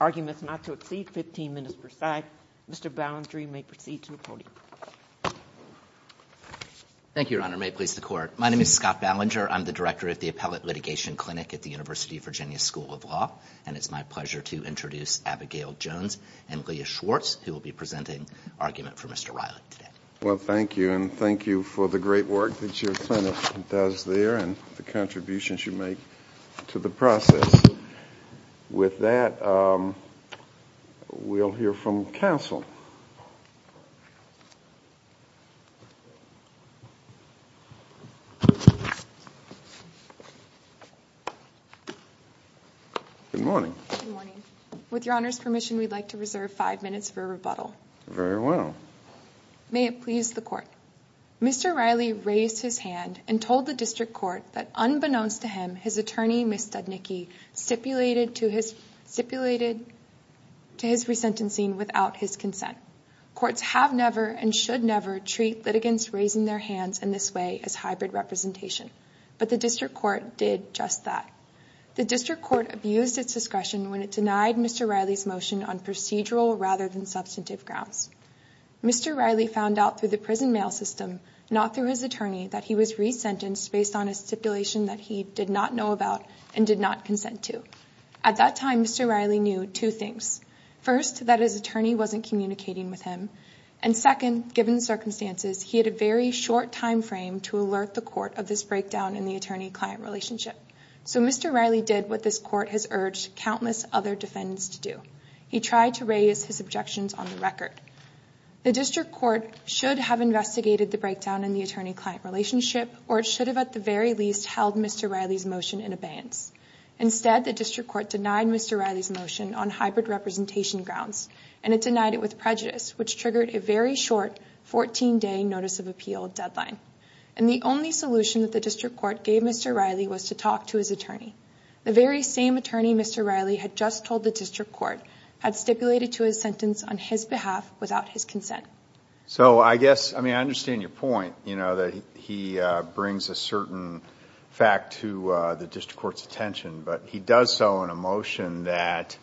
arguments not to exceed 15 minutes per side. Mr. Ballinger, you may proceed to the podium. Thank you, Your Honor. May it please the Court. My name is Scott Ballinger. I'm the Director of the Appellate Litigation Clinic at the University of Virginia School of Law, and it's my pleasure to introduce Abigail Jones and Leah Schwartz, who will be presenting argument for Mr. Riley today. Well, thank you, and thank you for the great work that your clinic does there and the contributions you make to the process. With that, we'll hear from counsel. Good morning. Good morning. With Your Honor's permission, we'd like to reserve five minutes for rebuttal. Very well. May it please the Court. Mr. Riley raised his hand and told the district court that unbeknownst to him, his attorney, Ms. Studnicki, stipulated to his resentencing without his consent. Courts have never and should never treat litigants raising their hands in this way as hybrid representation, but the district court did just that. The district court abused its discretion when it denied Mr. Riley's motion on procedural rather than substantive grounds. Mr. Riley found out through the prison mail system, not through his attorney, that he was resentenced based on a stipulation that he did not know about and did not consent to. At that time, Mr. Riley knew two things. First, that his attorney wasn't communicating with him, and second, given the circumstances, he had a very short timeframe to alert the court of this breakdown in the attorney-client relationship. So Mr. Riley did what this court has urged countless other defendants to do. He tried to raise his objections on the record. The district court should have investigated the breakdown in the attorney-client relationship, or it should have at the very least held Mr. Riley's motion in abeyance. Instead, the district court denied Mr. Riley's motion on hybrid representation grounds, and it denied it with prejudice, which triggered a very short 14-day notice of appeal deadline. And the only solution that the district court gave Mr. Riley was to talk to his attorney. The very same attorney Mr. Riley had just told the district court had stipulated to his sentence on his behalf without his consent. So I guess, I mean, I understand your point, you know, that he brings a certain fact to the district court's attention, but he does so in a motion that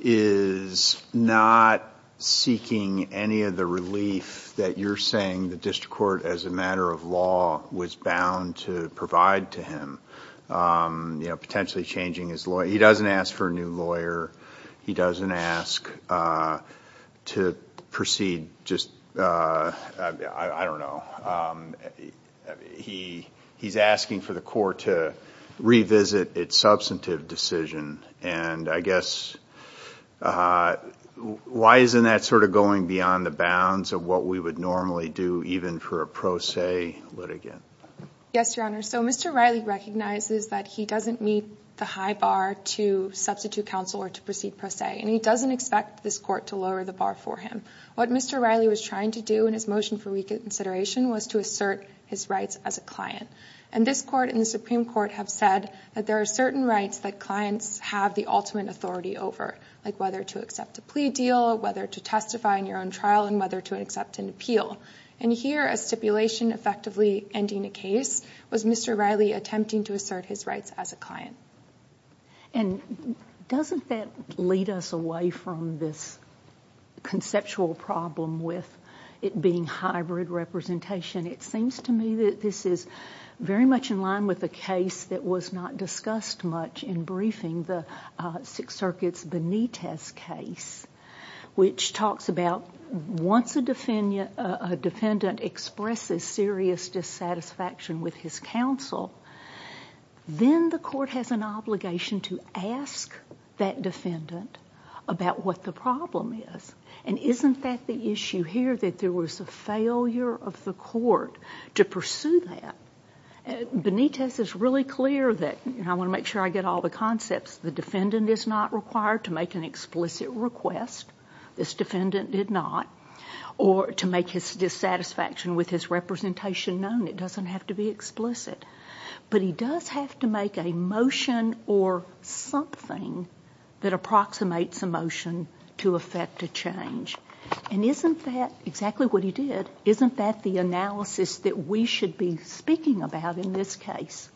is not seeking any of the relief that you're saying the district court, as a matter of law, was bound to provide to him, you know, potentially changing his lawyer. He doesn't ask for a new lawyer. He doesn't ask to proceed, just, I don't know. He's asking for the court to revisit its substantive decision, and I guess, why isn't that sort of going beyond the bounds of what we would normally do, even for a pro se litigant? Yes, Your Honor. So Mr. Riley recognizes that he doesn't meet the high bar to substitute counsel or to proceed pro se, and he doesn't expect this court to lower the bar for him. What Mr. Riley was trying to do in his motion for reconsideration was to assert his rights as a client. And this court and the Supreme Court have said that there are certain rights that clients have the ultimate authority over, like whether to accept a plea deal, whether to testify in your own trial, and whether to accept an appeal. And here, a stipulation effectively ending a case was Mr. Riley attempting to assert his rights as a client. And doesn't that lead us away from this conceptual problem with it being hybrid representation? It seems to me that this is very much in line with the case that was not discussed much in briefing, the Sixth Circuit's Benitez case, which talks about once a defendant expresses serious dissatisfaction with his counsel, then the court has an obligation to ask that defendant about what the problem is. And isn't that the issue here, that there was a failure of the court to pursue that? Benitez is really clear that, and I want to make sure I get all the concepts, the defendant is not required to make an explicit request, this defendant did not, or to make his dissatisfaction with his representation known. It doesn't have to be explicit. But he does have to make a motion or something that approximates a motion to effect a change. And isn't that exactly what he did? Isn't that the analysis that we should be speaking about in this case?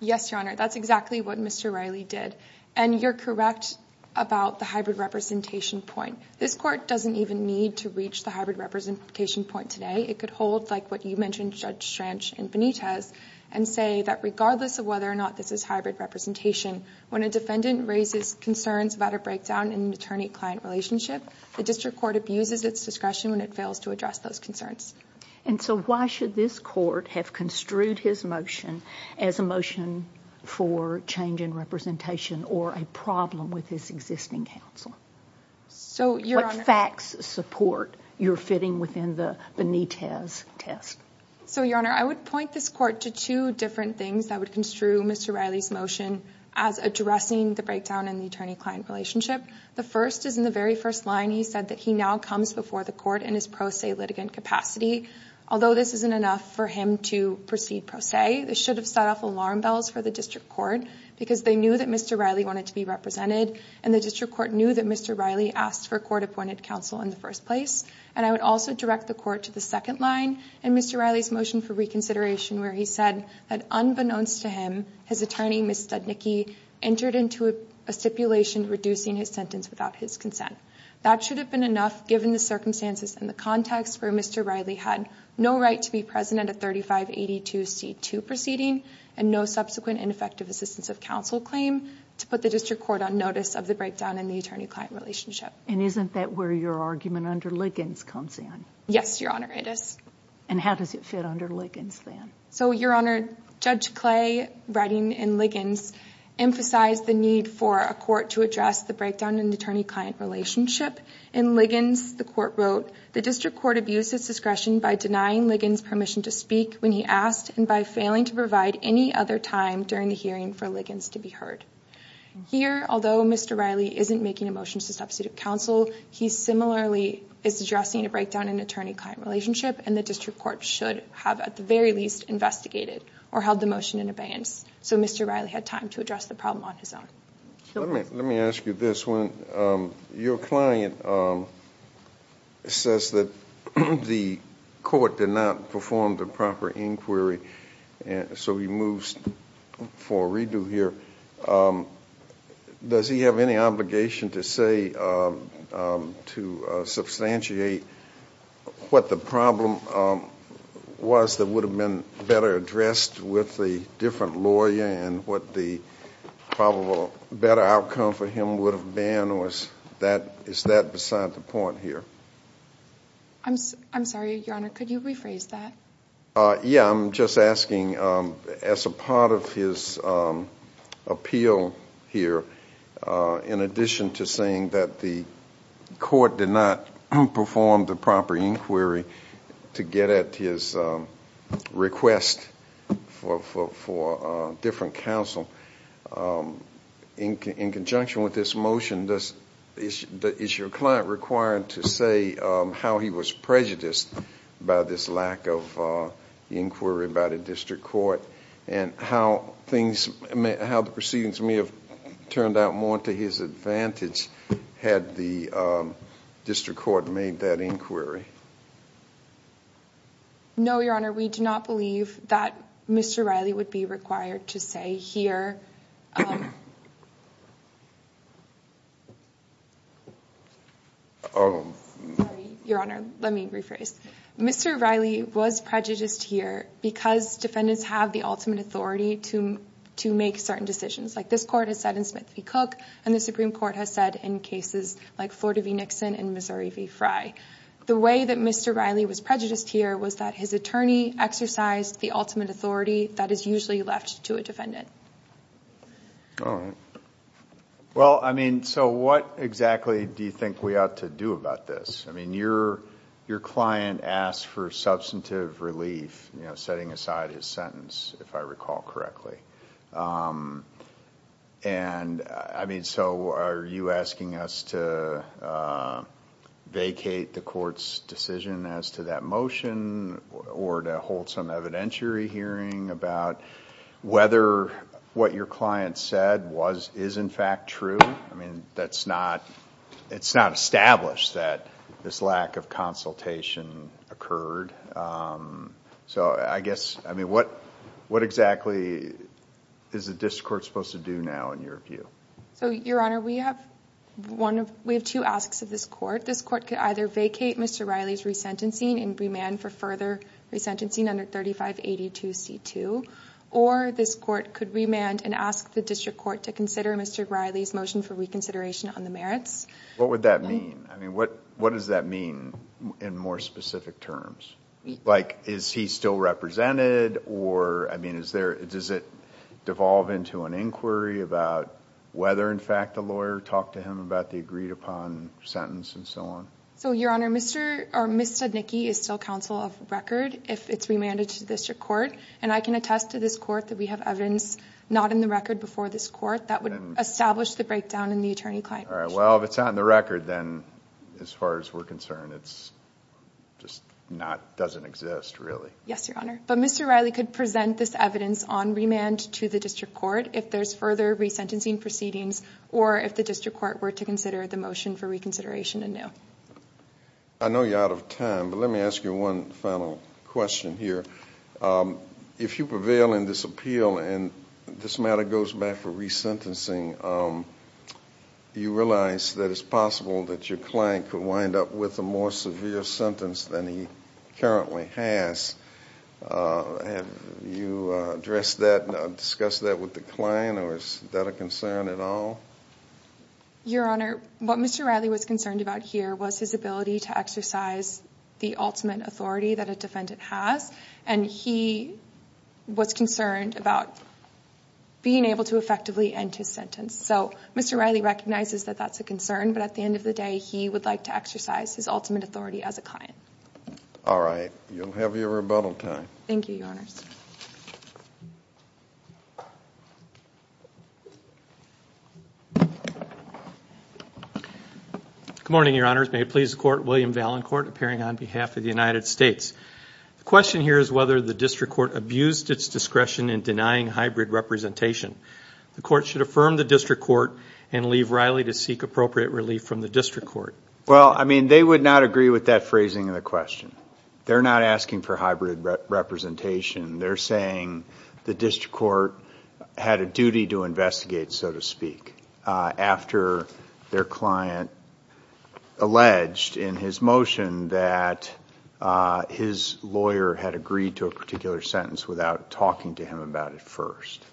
Yes, Your Honor, that's exactly what Mr. Riley did. And you're correct about the hybrid representation point. This court doesn't even need to reach the hybrid representation point today. It could hold like what you mentioned, Judge Schranch and Benitez, and say that regardless of whether or not this is hybrid representation, when a defendant raises concerns about a breakdown in an attorney-client relationship, the district court abuses its discretion when it fails to address those concerns. And so why should this court have construed his motion as a motion for change in representation or a problem with his existing counsel? What facts support you're fitting within the Benitez test? So Your Honor, I would point this court to two different things that would construe Mr. Riley's motion as addressing the breakdown in the attorney-client relationship. The first is in the very first line he said that he now comes before the court in his pro se litigant capacity. Although this isn't enough for him to proceed pro se, this should have set off alarm bells for the district court because they knew that Mr. Riley wanted to be represented and the district court knew that Mr. Riley asked for court-appointed counsel in the first place. And I would also direct the court to the second line in Mr. Riley's motion for reconsideration where he said that unbeknownst to him, his attorney, Ms. Studnicki, entered into a stipulation reducing his sentence without his consent. That should have been enough given the circumstances and the context where Mr. Riley had no right to be present at 3582 C2 proceeding and no subsequent and effective assistance of counsel claim to put the district court on notice of the breakdown in the attorney-client relationship. And isn't that where your argument under Liggins comes in? Yes, Your Honor, it is. And how does it fit under Liggins then? So Your Honor, Judge Clay writing in Liggins emphasized the need for a court to address the breakdown in the attorney-client relationship. In Liggins, the court wrote, the district court abused its discretion by denying Liggins permission to speak when he asked and by failing to provide any other time during the hearing for Liggins to be heard. Here, although Mr. Riley isn't making a motion to substitute counsel, he similarly is addressing a breakdown in the attorney-client relationship and the district court should have at the very least investigated or held the motion in abeyance so Mr. Riley had time to address the problem on his own. Let me ask you this. When your client says that the court did not perform the proper inquiry, so he moves for a redo here, does he have any obligation to say, to substantiate what the problem was that would have been better addressed with a different lawyer and what the probable better outcome for him would have been or is that beside the point here? I'm sorry, Your Honor, could you rephrase that? Yeah, I'm just asking as a part of his appeal here, in addition to saying that the court did not perform the proper inquiry to get at his request for different counsel, in conjunction with this motion, is your client required to say how he was prejudiced by this lack of inquiry by the district court and how the proceedings may have turned out more to his advantage had the district court made that inquiry? No, Your Honor, we do not believe that Mr. Riley would be required to say here, sorry, Your Honor, let me rephrase. Mr. Riley was prejudiced here because defendants have the ultimate authority to make certain decisions. Like this court has said in Smith v. Cook and the Supreme Court has said in cases like Florida v. Nixon and Missouri v. Frye. The way that Mr. Riley was prejudiced here was that his attorney exercised the ultimate authority that is usually left to a defendant. All right. Well, I mean, so what exactly do you think we ought to do about this? I mean, your client asked for substantive relief, setting aside his sentence, if I recall correctly. I mean, so are you asking us to vacate the court's decision as to that motion or to hold some evidentiary hearing about whether what your client said is in fact true? I mean, it's not established that this lack of consultation occurred. So I guess, I mean, what exactly is the district court supposed to do now in your view? So Your Honor, we have two asks of this court. This court could either vacate Mr. Riley's resentencing and remand for further resentencing under 3582C2, or this court could remand and ask the district court to consider Mr. Riley's motion for reconsideration on the merits. What would that mean? I mean, what does that mean in more specific terms? Like, is he still represented or, I mean, does it devolve into an inquiry about whether in fact the lawyer talked to him about the agreed upon sentence and so on? So Your Honor, Ms. Stednicki is still counsel of record if it's remanded to the district court, and I can attest to this court that we have evidence not in the record before this court that would establish the breakdown in the attorney-client ratio. All right. Well, if it's not in the record, then as far as we're concerned, it's just not, doesn't exist really. Yes, Your Honor. But Mr. Riley could present this evidence on remand to the district court if there's further resentencing proceedings or if the district court were to consider the motion for reconsideration anew. I know you're out of time, but let me ask you one final question here. If you prevail in this appeal and this matter goes back for resentencing, do you realize that it's possible that your client could wind up with a more severe sentence than he currently has? Have you addressed that, discussed that with the client, or is that a concern at all? Your Honor, what Mr. Riley was concerned about here was his ability to exercise the ultimate authority that a defendant has, and he was concerned about being able to effectively end his sentence. So Mr. Riley recognizes that that's a concern, but at the end of the day, he would like to exercise his ultimate authority as a client. All right. You'll have your rebuttal time. Thank you, Your Honors. Good morning, Your Honors. May it please the Court, William Valancourt, appearing on behalf of the United States. The question here is whether the district court abused its discretion in denying hybrid representation. The court should affirm the district court and leave Riley to seek appropriate relief from the district court. Well, I mean, they would not agree with that phrasing of the question. They're not asking for hybrid representation. They're saying the district court had a duty to investigate, so to speak, after their client alleged in his motion that his lawyer had agreed to a particular sentence without talking to him about it first.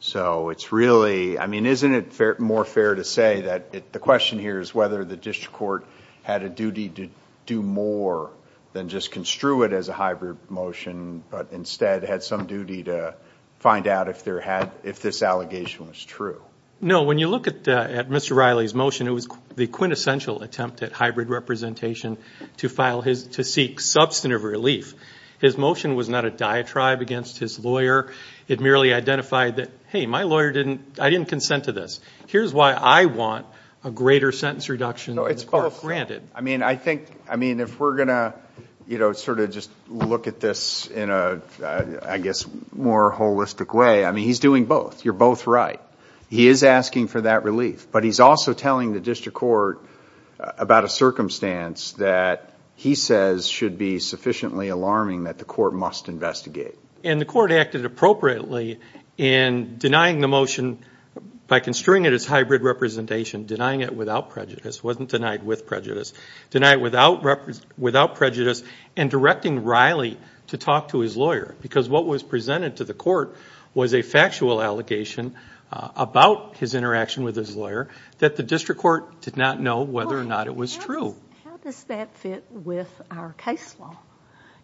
So it's really... I mean, isn't it more fair to say that the question here is whether the district court had a duty to do more than just construe it as a hybrid motion, but instead had some duty to find out if this allegation was true? No. When you look at Mr. Riley's motion, it was the quintessential attempt at hybrid representation to seek substantive relief. His motion was not a diatribe against his lawyer. It merely identified that, hey, my lawyer didn't... I didn't consent to this. Here's why I want a greater sentence reduction than is granted. I mean, I think... I mean, if we're going to, you know, sort of just look at this in a, I guess, more holistic way, I mean, he's doing both. You're both right. He is asking for that relief, but he's also telling the district court about a circumstance that he says should be sufficiently alarming that the court must investigate. And the court acted appropriately in denying the motion by construing it as hybrid representation, denying it without prejudice, wasn't denied with prejudice, denied without prejudice, and directing Riley to talk to his lawyer because what was presented to the court was a factual allegation about his interaction with his lawyer that the district court did not know whether or not it was true. How does that fit with our case law?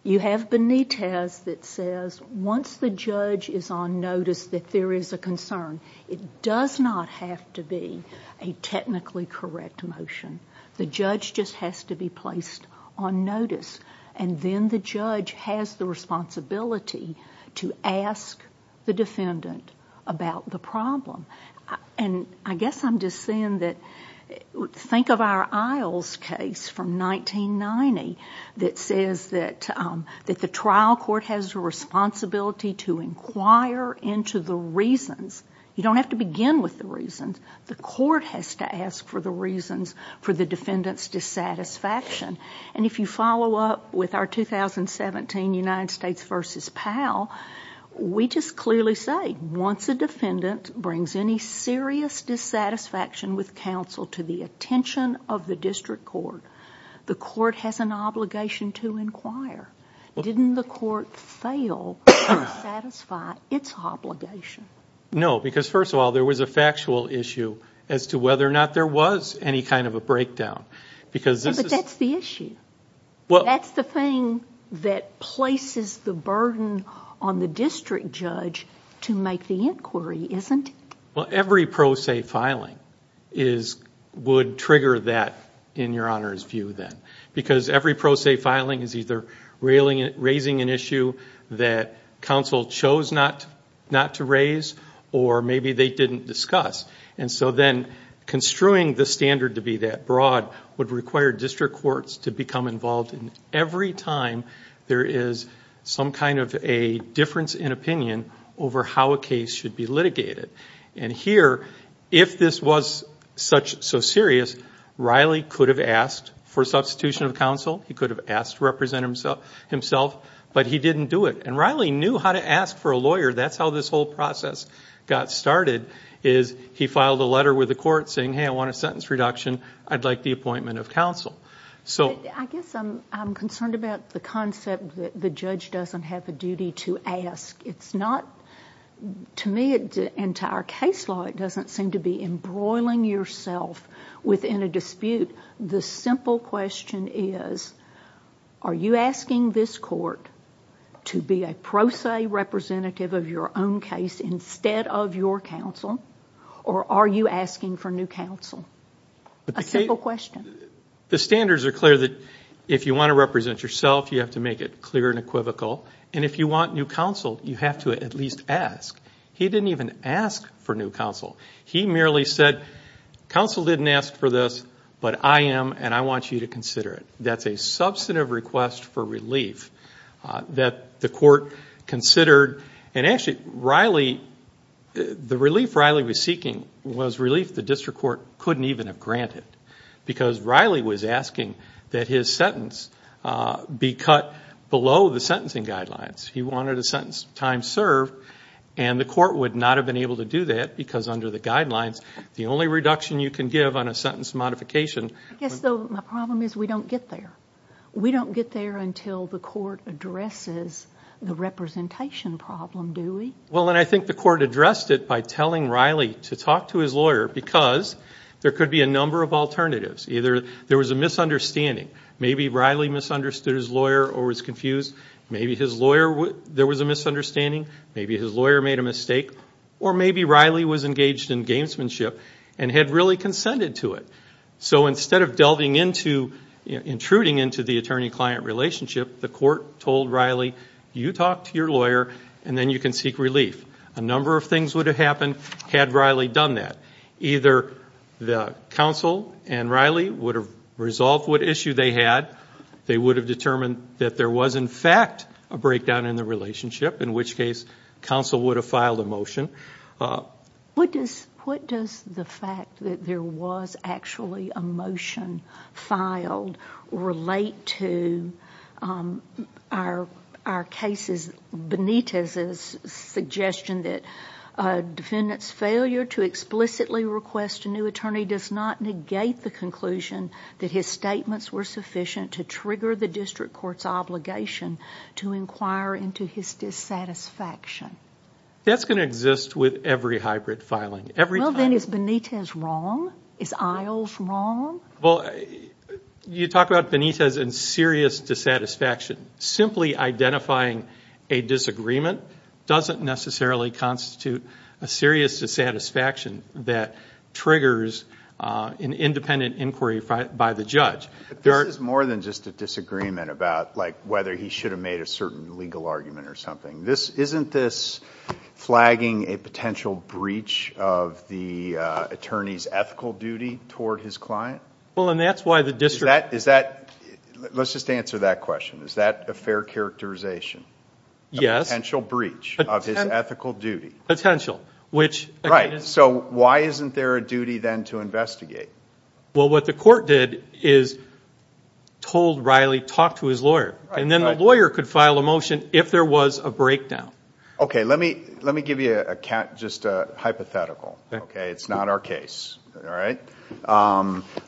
You have Benitez that says once the judge is on notice that there is a concern, it does not have to be a technically correct motion. The judge just has to be placed on notice, and then the judge has the responsibility to ask the defendant about the problem. And I guess I'm just saying that... think of our Isles case from 1990 that says that the trial court has a responsibility to inquire into the reasons. You don't have to begin with the reasons. The court has to ask for the reasons for the defendant's dissatisfaction. And if you follow up with our 2017 United States v. Powell, we just clearly say once a defendant brings any serious dissatisfaction with counsel to the attention of the district court, the court has an obligation to inquire. Didn't the court fail to satisfy its obligation? No because first of all, there was a factual issue as to whether or not there was any kind of a breakdown because... But that's the issue. That's the thing that places the burden on the district judge to make the inquiry, isn't it? Every pro se filing would trigger that in your Honor's view then because every pro se filing is either raising an issue that counsel chose not to raise or maybe they didn't discuss. And so then construing the standard to be that broad would require district courts to become involved in every time there is some kind of a difference in opinion over how a district court should be. And here, if this was so serious, Riley could have asked for substitution of counsel. He could have asked to represent himself, but he didn't do it. And Riley knew how to ask for a lawyer. That's how this whole process got started is he filed a letter with the court saying, hey, I want a sentence reduction. I'd like the appointment of counsel. So I guess I'm concerned about the concept that the judge doesn't have the duty to ask. It's not, to me and to our case law, it doesn't seem to be embroiling yourself within a dispute. The simple question is, are you asking this court to be a pro se representative of your own case instead of your counsel or are you asking for new counsel? A simple question. The standards are clear that if you want to represent yourself, you have to make it clear and equivocal and if you want new counsel, you have to at least ask. He didn't even ask for new counsel. He merely said, counsel didn't ask for this, but I am and I want you to consider it. That's a substantive request for relief that the court considered and actually Riley, the relief Riley was seeking was relief the district court couldn't even have granted because Riley was asking that his sentence be cut below the sentencing guidelines. He wanted a sentence time served and the court would not have been able to do that because under the guidelines, the only reduction you can give on a sentence modification... I guess though, my problem is we don't get there. We don't get there until the court addresses the representation problem, do we? Well, and I think the court addressed it by telling Riley to talk to his lawyer because there could be a number of alternatives. Either there was a misunderstanding, maybe Riley misunderstood his lawyer or was confused, maybe there was a misunderstanding, maybe his lawyer made a mistake, or maybe Riley was engaged in gamesmanship and had really consented to it. So instead of delving into, intruding into the attorney-client relationship, the court told Riley, you talk to your lawyer and then you can seek relief. A number of things would have happened had Riley done that. Either the counsel and Riley would have resolved what issue they had, they would have determined that there was in fact a breakdown in the relationship, in which case counsel would have filed a motion. What does the fact that there was actually a motion filed relate to our cases, Benitez's suggestion that a defendant's failure to explicitly request a new attorney does not negate the conclusion that his statements were sufficient to trigger the district court's obligation to inquire into his dissatisfaction? That's going to exist with every hybrid filing. Well then, is Benitez wrong? Is Iles wrong? You talk about Benitez and serious dissatisfaction. Simply identifying a disagreement doesn't necessarily constitute a serious dissatisfaction that triggers an independent inquiry by the judge. This is more than just a disagreement about whether he should have made a certain legal argument or something. Isn't this flagging a potential breach of the attorney's ethical duty toward his client? Well, and that's why the district... Is that, let's just answer that question, is that a fair characterization, a potential breach of his ethical duty? Potential, which... So why isn't there a duty then to investigate? Well what the court did is told Riley, talk to his lawyer, and then the lawyer could file a motion if there was a breakdown. Okay, let me give you just a hypothetical, okay? It's not our case, alright?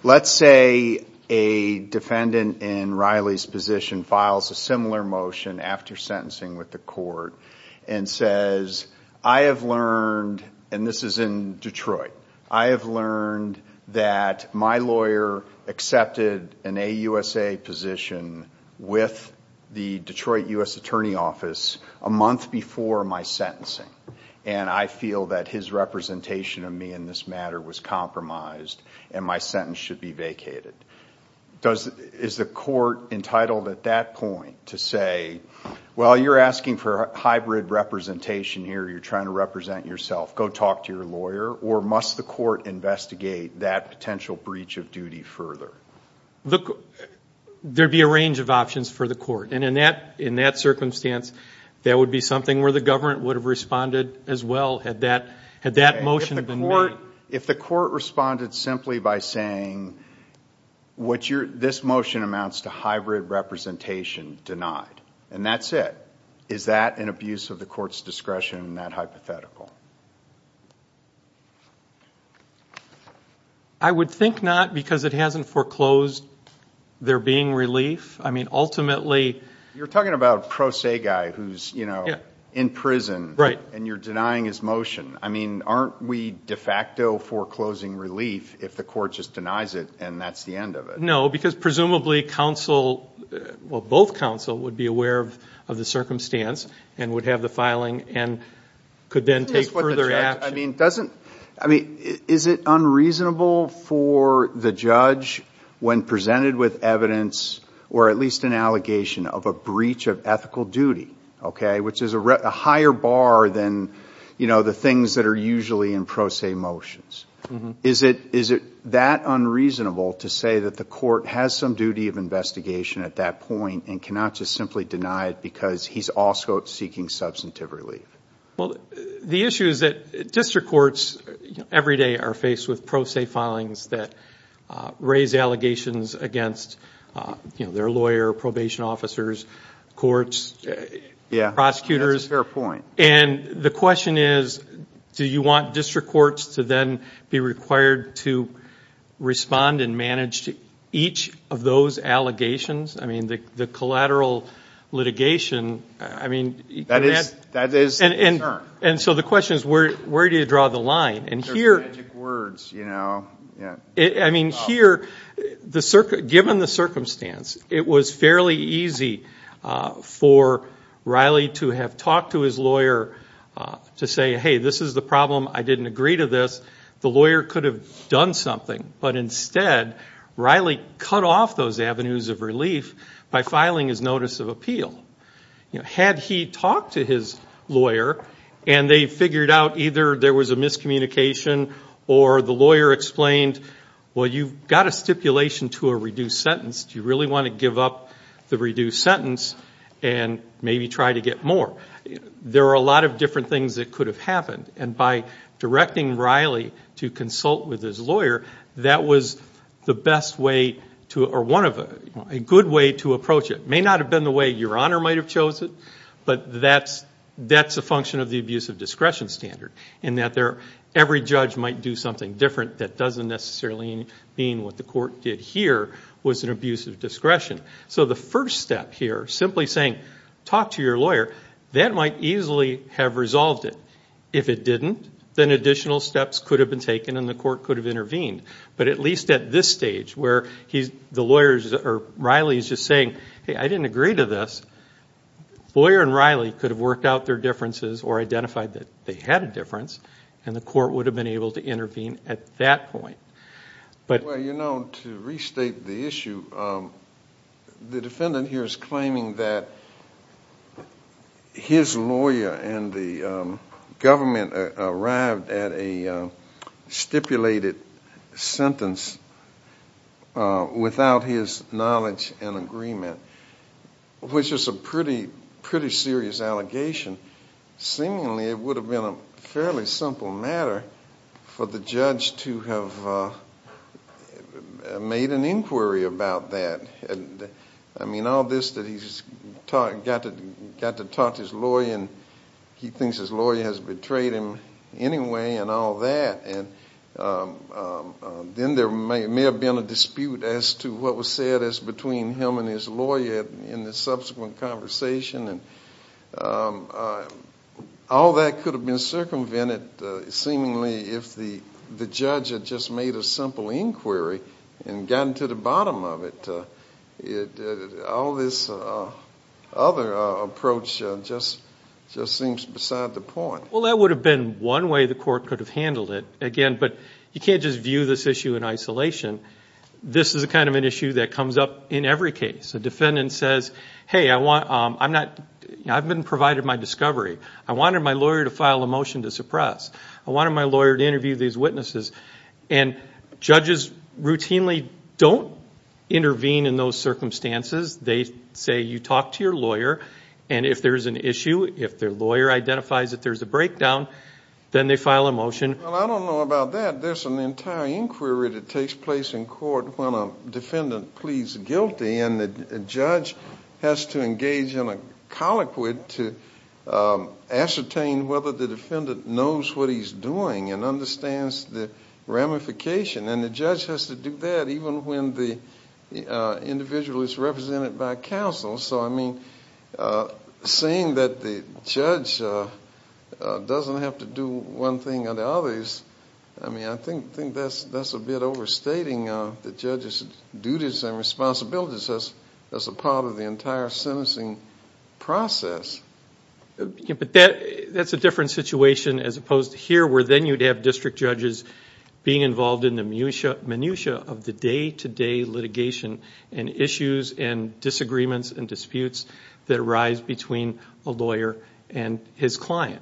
Let's say a defendant in Riley's position files a similar motion after sentencing with the court and says, I have learned, and this is in Detroit, I have learned that my lawyer accepted an AUSA position with the Detroit U.S. Attorney Office a month before my sentencing, and I feel that his representation of me in this matter was compromised and my sentence should be vacated. Is the court entitled at that point to say, well you're asking for a hybrid representation here, you're trying to represent yourself, go talk to your lawyer, or must the court investigate that potential breach of duty further? There'd be a range of options for the court, and in that circumstance, that would be something where the government would have responded as well, had that motion been made. If the court responded simply by saying, this motion amounts to hybrid representation denied, and that's it, is that an abuse of the court's discretion, that hypothetical? I would think not, because it hasn't foreclosed there being relief, I mean ultimately... You're talking about a pro se guy who's in prison, and you're denying his motion, I mean aren't we de facto foreclosing relief if the court just denies it and that's the end of it? No, because presumably counsel, well both counsel would be aware of the circumstance and would have the filing and could then take further action. Is it unreasonable for the judge, when presented with evidence, or at least an allegation of a breach of ethical duty, which is a higher bar than the things that are usually in pro se motions, is it that unreasonable to say that the court has some duty of investigation at that point and cannot just simply deny it because he's also seeking substantive relief? The issue is that district courts every day are faced with pro se filings that raise allegations against their lawyer, probation officers, courts, prosecutors, and the question is, do you want district courts to then be required to respond and manage each of those allegations? I mean the collateral litigation, I mean... That is the concern. And so the question is, where do you draw the line? They're magic words, you know. I mean here, given the circumstance, it was fairly easy for Riley to have talked to his lawyer to say, hey this is the problem, I didn't agree to this, the lawyer could have done something, but instead Riley cut off those avenues of relief by filing his notice of appeal. Had he talked to his lawyer and they figured out either there was a miscommunication or the lawyer explained, well you've got a stipulation to a reduced sentence, do you really want to give up the reduced sentence and maybe try to get more? There are a lot of different things that could have happened and by directing Riley to consult with his lawyer, that was the best way to, or one of, a good way to approach it. It may not have been the way Your Honor might have chosen, but that's a function of the abuse of discretion standard in that every judge might do something different that doesn't necessarily mean what the court did here was an abuse of discretion. So the first step here, simply saying, talk to your lawyer, that might easily have resolved it. If it didn't, then additional steps could have been taken and the court could have intervened. But at least at this stage where he's, the lawyer's, or Riley's just saying, hey I didn't agree to this, lawyer and Riley could have worked out their differences or identified that they had a difference and the court would have been able to intervene at that point. But you know, to restate the issue, the defendant here is claiming that his lawyer and the government arrived at a stipulated sentence without his knowledge and agreement, which is a pretty serious allegation. Seemingly it would have been a fairly simple matter for the judge to have made an inquiry about that. I mean all this that he's got to talk to his lawyer and he thinks his lawyer has betrayed him anyway and all that, and then there may have been a dispute as to what was said as between him and his lawyer in the subsequent conversation. All that could have been circumvented seemingly if the judge had just made a simple inquiry and gotten to the bottom of it. All this other approach just seems beside the point. Well that would have been one way the court could have handled it, again, but you can't just view this issue in isolation. This is the kind of an issue that comes up in every case. A defendant says, hey I've been provided my discovery, I wanted my lawyer to file a motion to suppress, I wanted my lawyer to interview these witnesses. And judges routinely don't intervene in those circumstances. They say you talk to your lawyer and if there's an issue, if their lawyer identifies that there's a breakdown, then they file a motion. Well I don't know about that, there's an entire inquiry that takes place in court when a defendant pleads guilty and the judge has to engage in a colloquy to ascertain whether the defendant knows what he's doing and understands the ramification. And the judge has to do that even when the individual is represented by counsel. So I mean, saying that the judge doesn't have to do one thing or the other, I think that's a bit overstating the judge's duties and responsibilities as a part of the entire sentencing process. That's a different situation as opposed to here where then you'd have district judges being involved in the minutiae of the day-to-day litigation and issues and disagreements and disputes that arise between a lawyer and his client.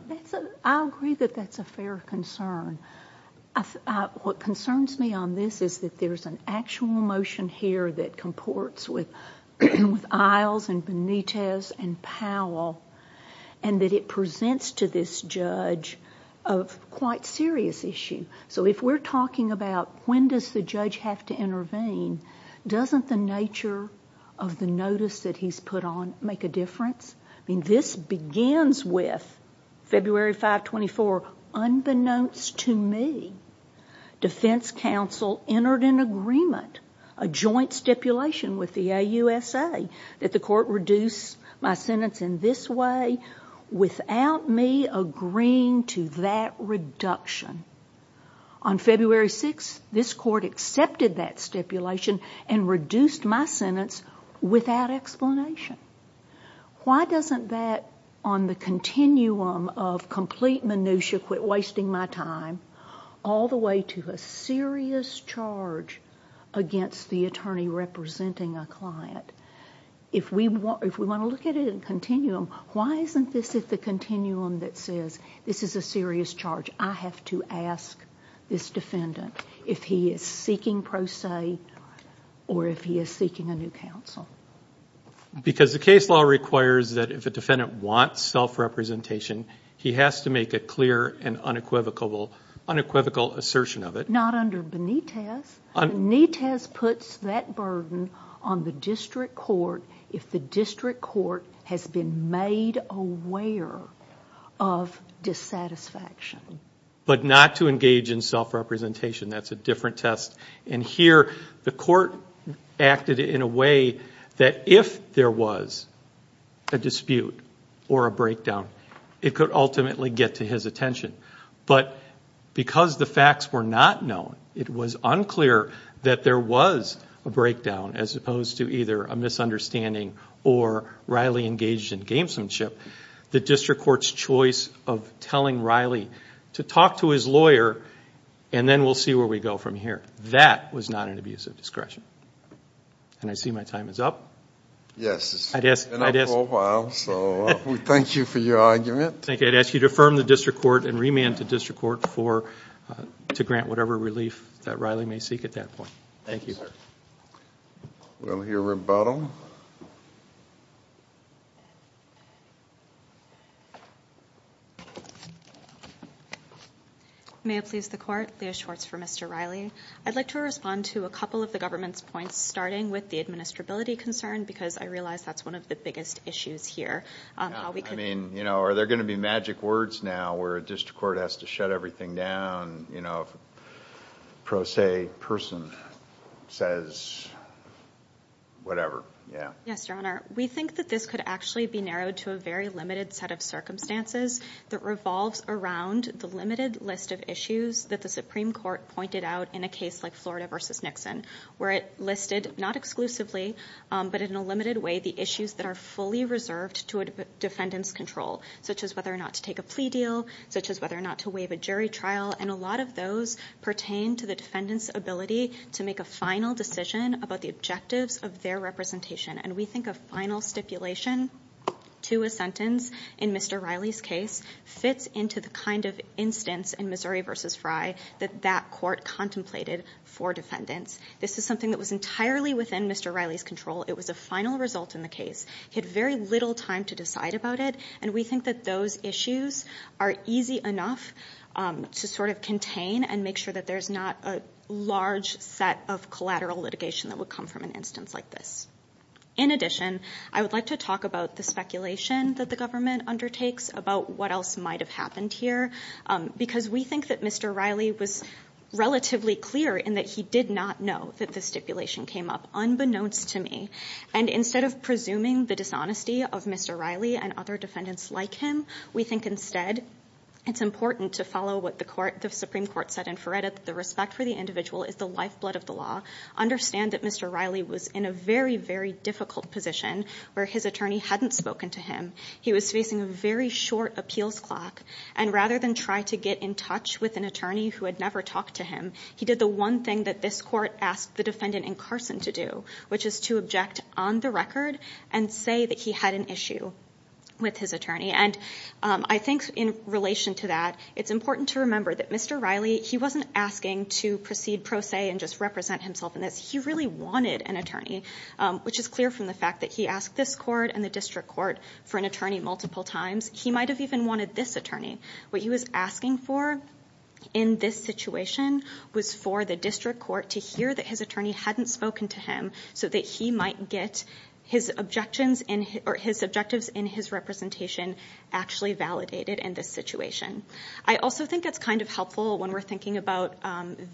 I agree that that's a fair concern. What concerns me on this is that there's an actual motion here that comports with Isles and Benitez and Powell and that it presents to this judge a quite serious issue. So if we're talking about when does the judge have to intervene, doesn't the nature of the notice that he's put on make a difference? This begins with February 5, 24, unbeknownst to me, defense counsel entered an agreement, a joint stipulation with the AUSA, that the court reduce my sentence in this way without me agreeing to that reduction. On February 6, this court accepted that stipulation and reduced my sentence without explanation. Why doesn't that, on the continuum of complete minutiae, quit wasting my time all the way to a serious charge against the attorney representing a client? If we want to look at it in continuum, why isn't this the continuum that says this is a serious charge? I have to ask this defendant if he is seeking pro se or if he is seeking a new counsel. Because the case law requires that if a defendant wants self-representation, he has to make a clear and unequivocal assertion of it. Not under Benitez. Benitez puts that burden on the district court if the district court has been made aware of dissatisfaction. But not to engage in self-representation, that's a different test. And here, the court acted in a way that if there was a dispute or a breakdown, it could ultimately get to his attention. But because the facts were not known, it was unclear that there was a breakdown as opposed to either a misunderstanding or Riley engaged in gamesomanship. The district court's choice of telling Riley to talk to his lawyer and then we'll see where we go from here. That was not an abuse of discretion. And I see my time is up. Yes, it's been up for a while, so we thank you for your argument. I'd ask you to affirm the district court and remand the district court to grant whatever relief that Riley may seek at that point. Thank you, sir. We'll hear rebuttal. May it please the court, Leah Schwartz for Mr. Riley. I'd like to respond to a couple of the government's points, starting with the administrability concern because I realize that's one of the biggest issues here. I mean, you know, are there going to be magic words now where a district court has to shut everything down, you know, if a pro se person says whatever? Yes, Your Honor. We think that this could actually be narrowed to a very limited set of circumstances that revolves around the limited list of issues that the Supreme Court pointed out in a case like Florida v. Nixon, where it listed not exclusively, but in a limited way, the issues that are fully reserved to a defendant's control, such as whether or not to take a plea deal, such as whether or not to waive a jury trial, and a lot of those pertain to the defendant's ability to make a final decision about the objectives of their representation. And we think a final stipulation to a sentence in Mr. Riley's case fits into the kind of instance in Missouri v. Fry that that court contemplated for defendants. This is something that was entirely within Mr. Riley's control. It was a final result in the case. He had very little time to decide about it. And we think that those issues are easy enough to sort of contain and make sure that there's not a large set of collateral litigation that would come from an instance like this. In addition, I would like to talk about the speculation that the government undertakes about what else might have happened here. Because we think that Mr. Riley was relatively clear in that he did not know that the stipulation came up, unbeknownst to me. And instead of presuming the dishonesty of Mr. Riley and other defendants like him, we think instead it's important to follow what the Supreme Court said in Feretta, that the respect for the individual is the lifeblood of the law, understand that Mr. Riley was in a very, very difficult position where his attorney hadn't spoken to him. He was facing a very short appeals clock. And rather than try to get in touch with an attorney who had never talked to him, he did the one thing that this court asked the defendant in Carson to do, which is to object on the record and say that he had an issue with his attorney. And I think in relation to that, it's important to remember that Mr. Riley, he wasn't asking to proceed pro se and just represent himself in this. He really wanted an attorney, which is clear from the fact that he asked this court and the district court for an attorney multiple times. He might have even wanted this attorney. What he was asking for in this situation was for the district court to hear that his attorney hadn't spoken to him so that he might get his objectives in his representation actually validated in this situation. I also think it's kind of helpful when we're thinking about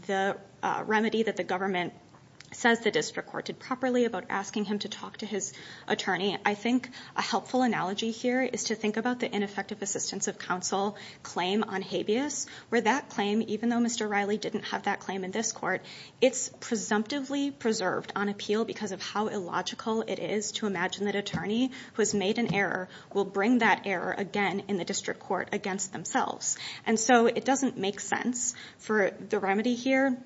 the remedy that the government says the district court did properly about asking him to talk to his attorney. I think a helpful analogy here is to think about the ineffective assistance of counsel claim on habeas, where that claim, even though Mr. Riley didn't have that claim in this court, it's presumptively preserved on appeal because of how illogical it is to imagine that an attorney who has made an error will bring that error again in the district court against themselves. And so it doesn't make sense for the remedy here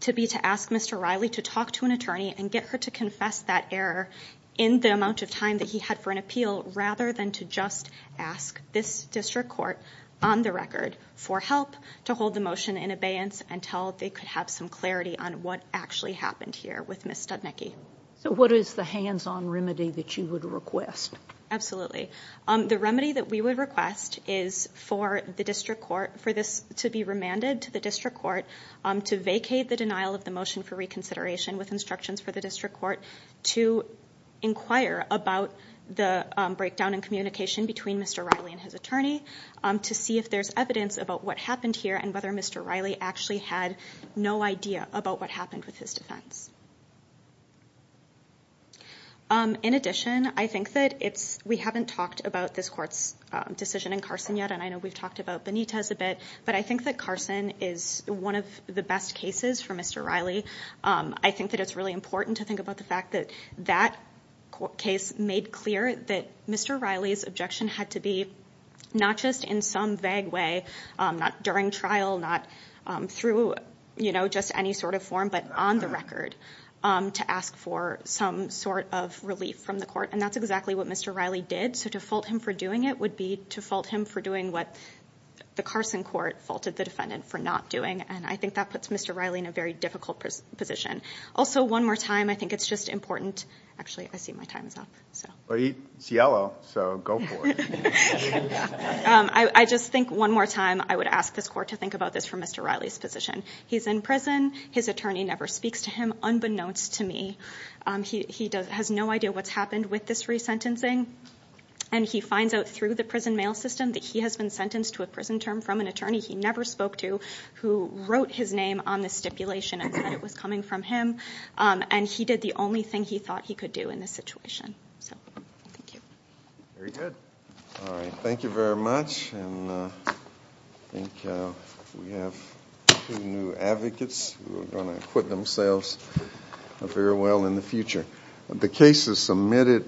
to be to ask Mr. Riley to talk to an that he had for an appeal rather than to just ask this district court on the record for help to hold the motion in abeyance until they could have some clarity on what actually happened here with Ms. Studnicki. So what is the hands-on remedy that you would request? Absolutely. The remedy that we would request is for the district court for this to be remanded to the district court to vacate the denial of the motion for reconsideration with instructions for the district court to inquire about the breakdown in communication between Mr. Riley and his attorney to see if there's evidence about what happened here and whether Mr. Riley actually had no idea about what happened with his defense. In addition, I think that we haven't talked about this court's decision in Carson yet, and I know we've talked about Benitez a bit, but I think that Carson is one of the best cases for Mr. Riley. I think that it's really important to think about the fact that that case made clear that Mr. Riley's objection had to be not just in some vague way, not during trial, not through just any sort of form, but on the record to ask for some sort of relief from the court, and that's exactly what Mr. Riley did. So to fault him for doing it would be to fault him for doing what the Carson court faulted the defendant for not doing, and I think that puts Mr. Riley in a very difficult position. Also, one more time, I think it's just important... Actually, I see my time is up, so... It's yellow, so go for it. I just think one more time I would ask this court to think about this for Mr. Riley's position. He's in prison. His attorney never speaks to him, unbeknownst to me. He has no idea what's happened with this resentencing, and he finds out through the prison mail system that he has been sentenced to a prison term from an attorney. He never spoke to who wrote his name on the stipulation and said it was coming from him, and he did the only thing he thought he could do in this situation, so thank you. Very good. All right. Thank you very much, and I think we have two new advocates who are going to equip themselves very well in the future. The case is submitted.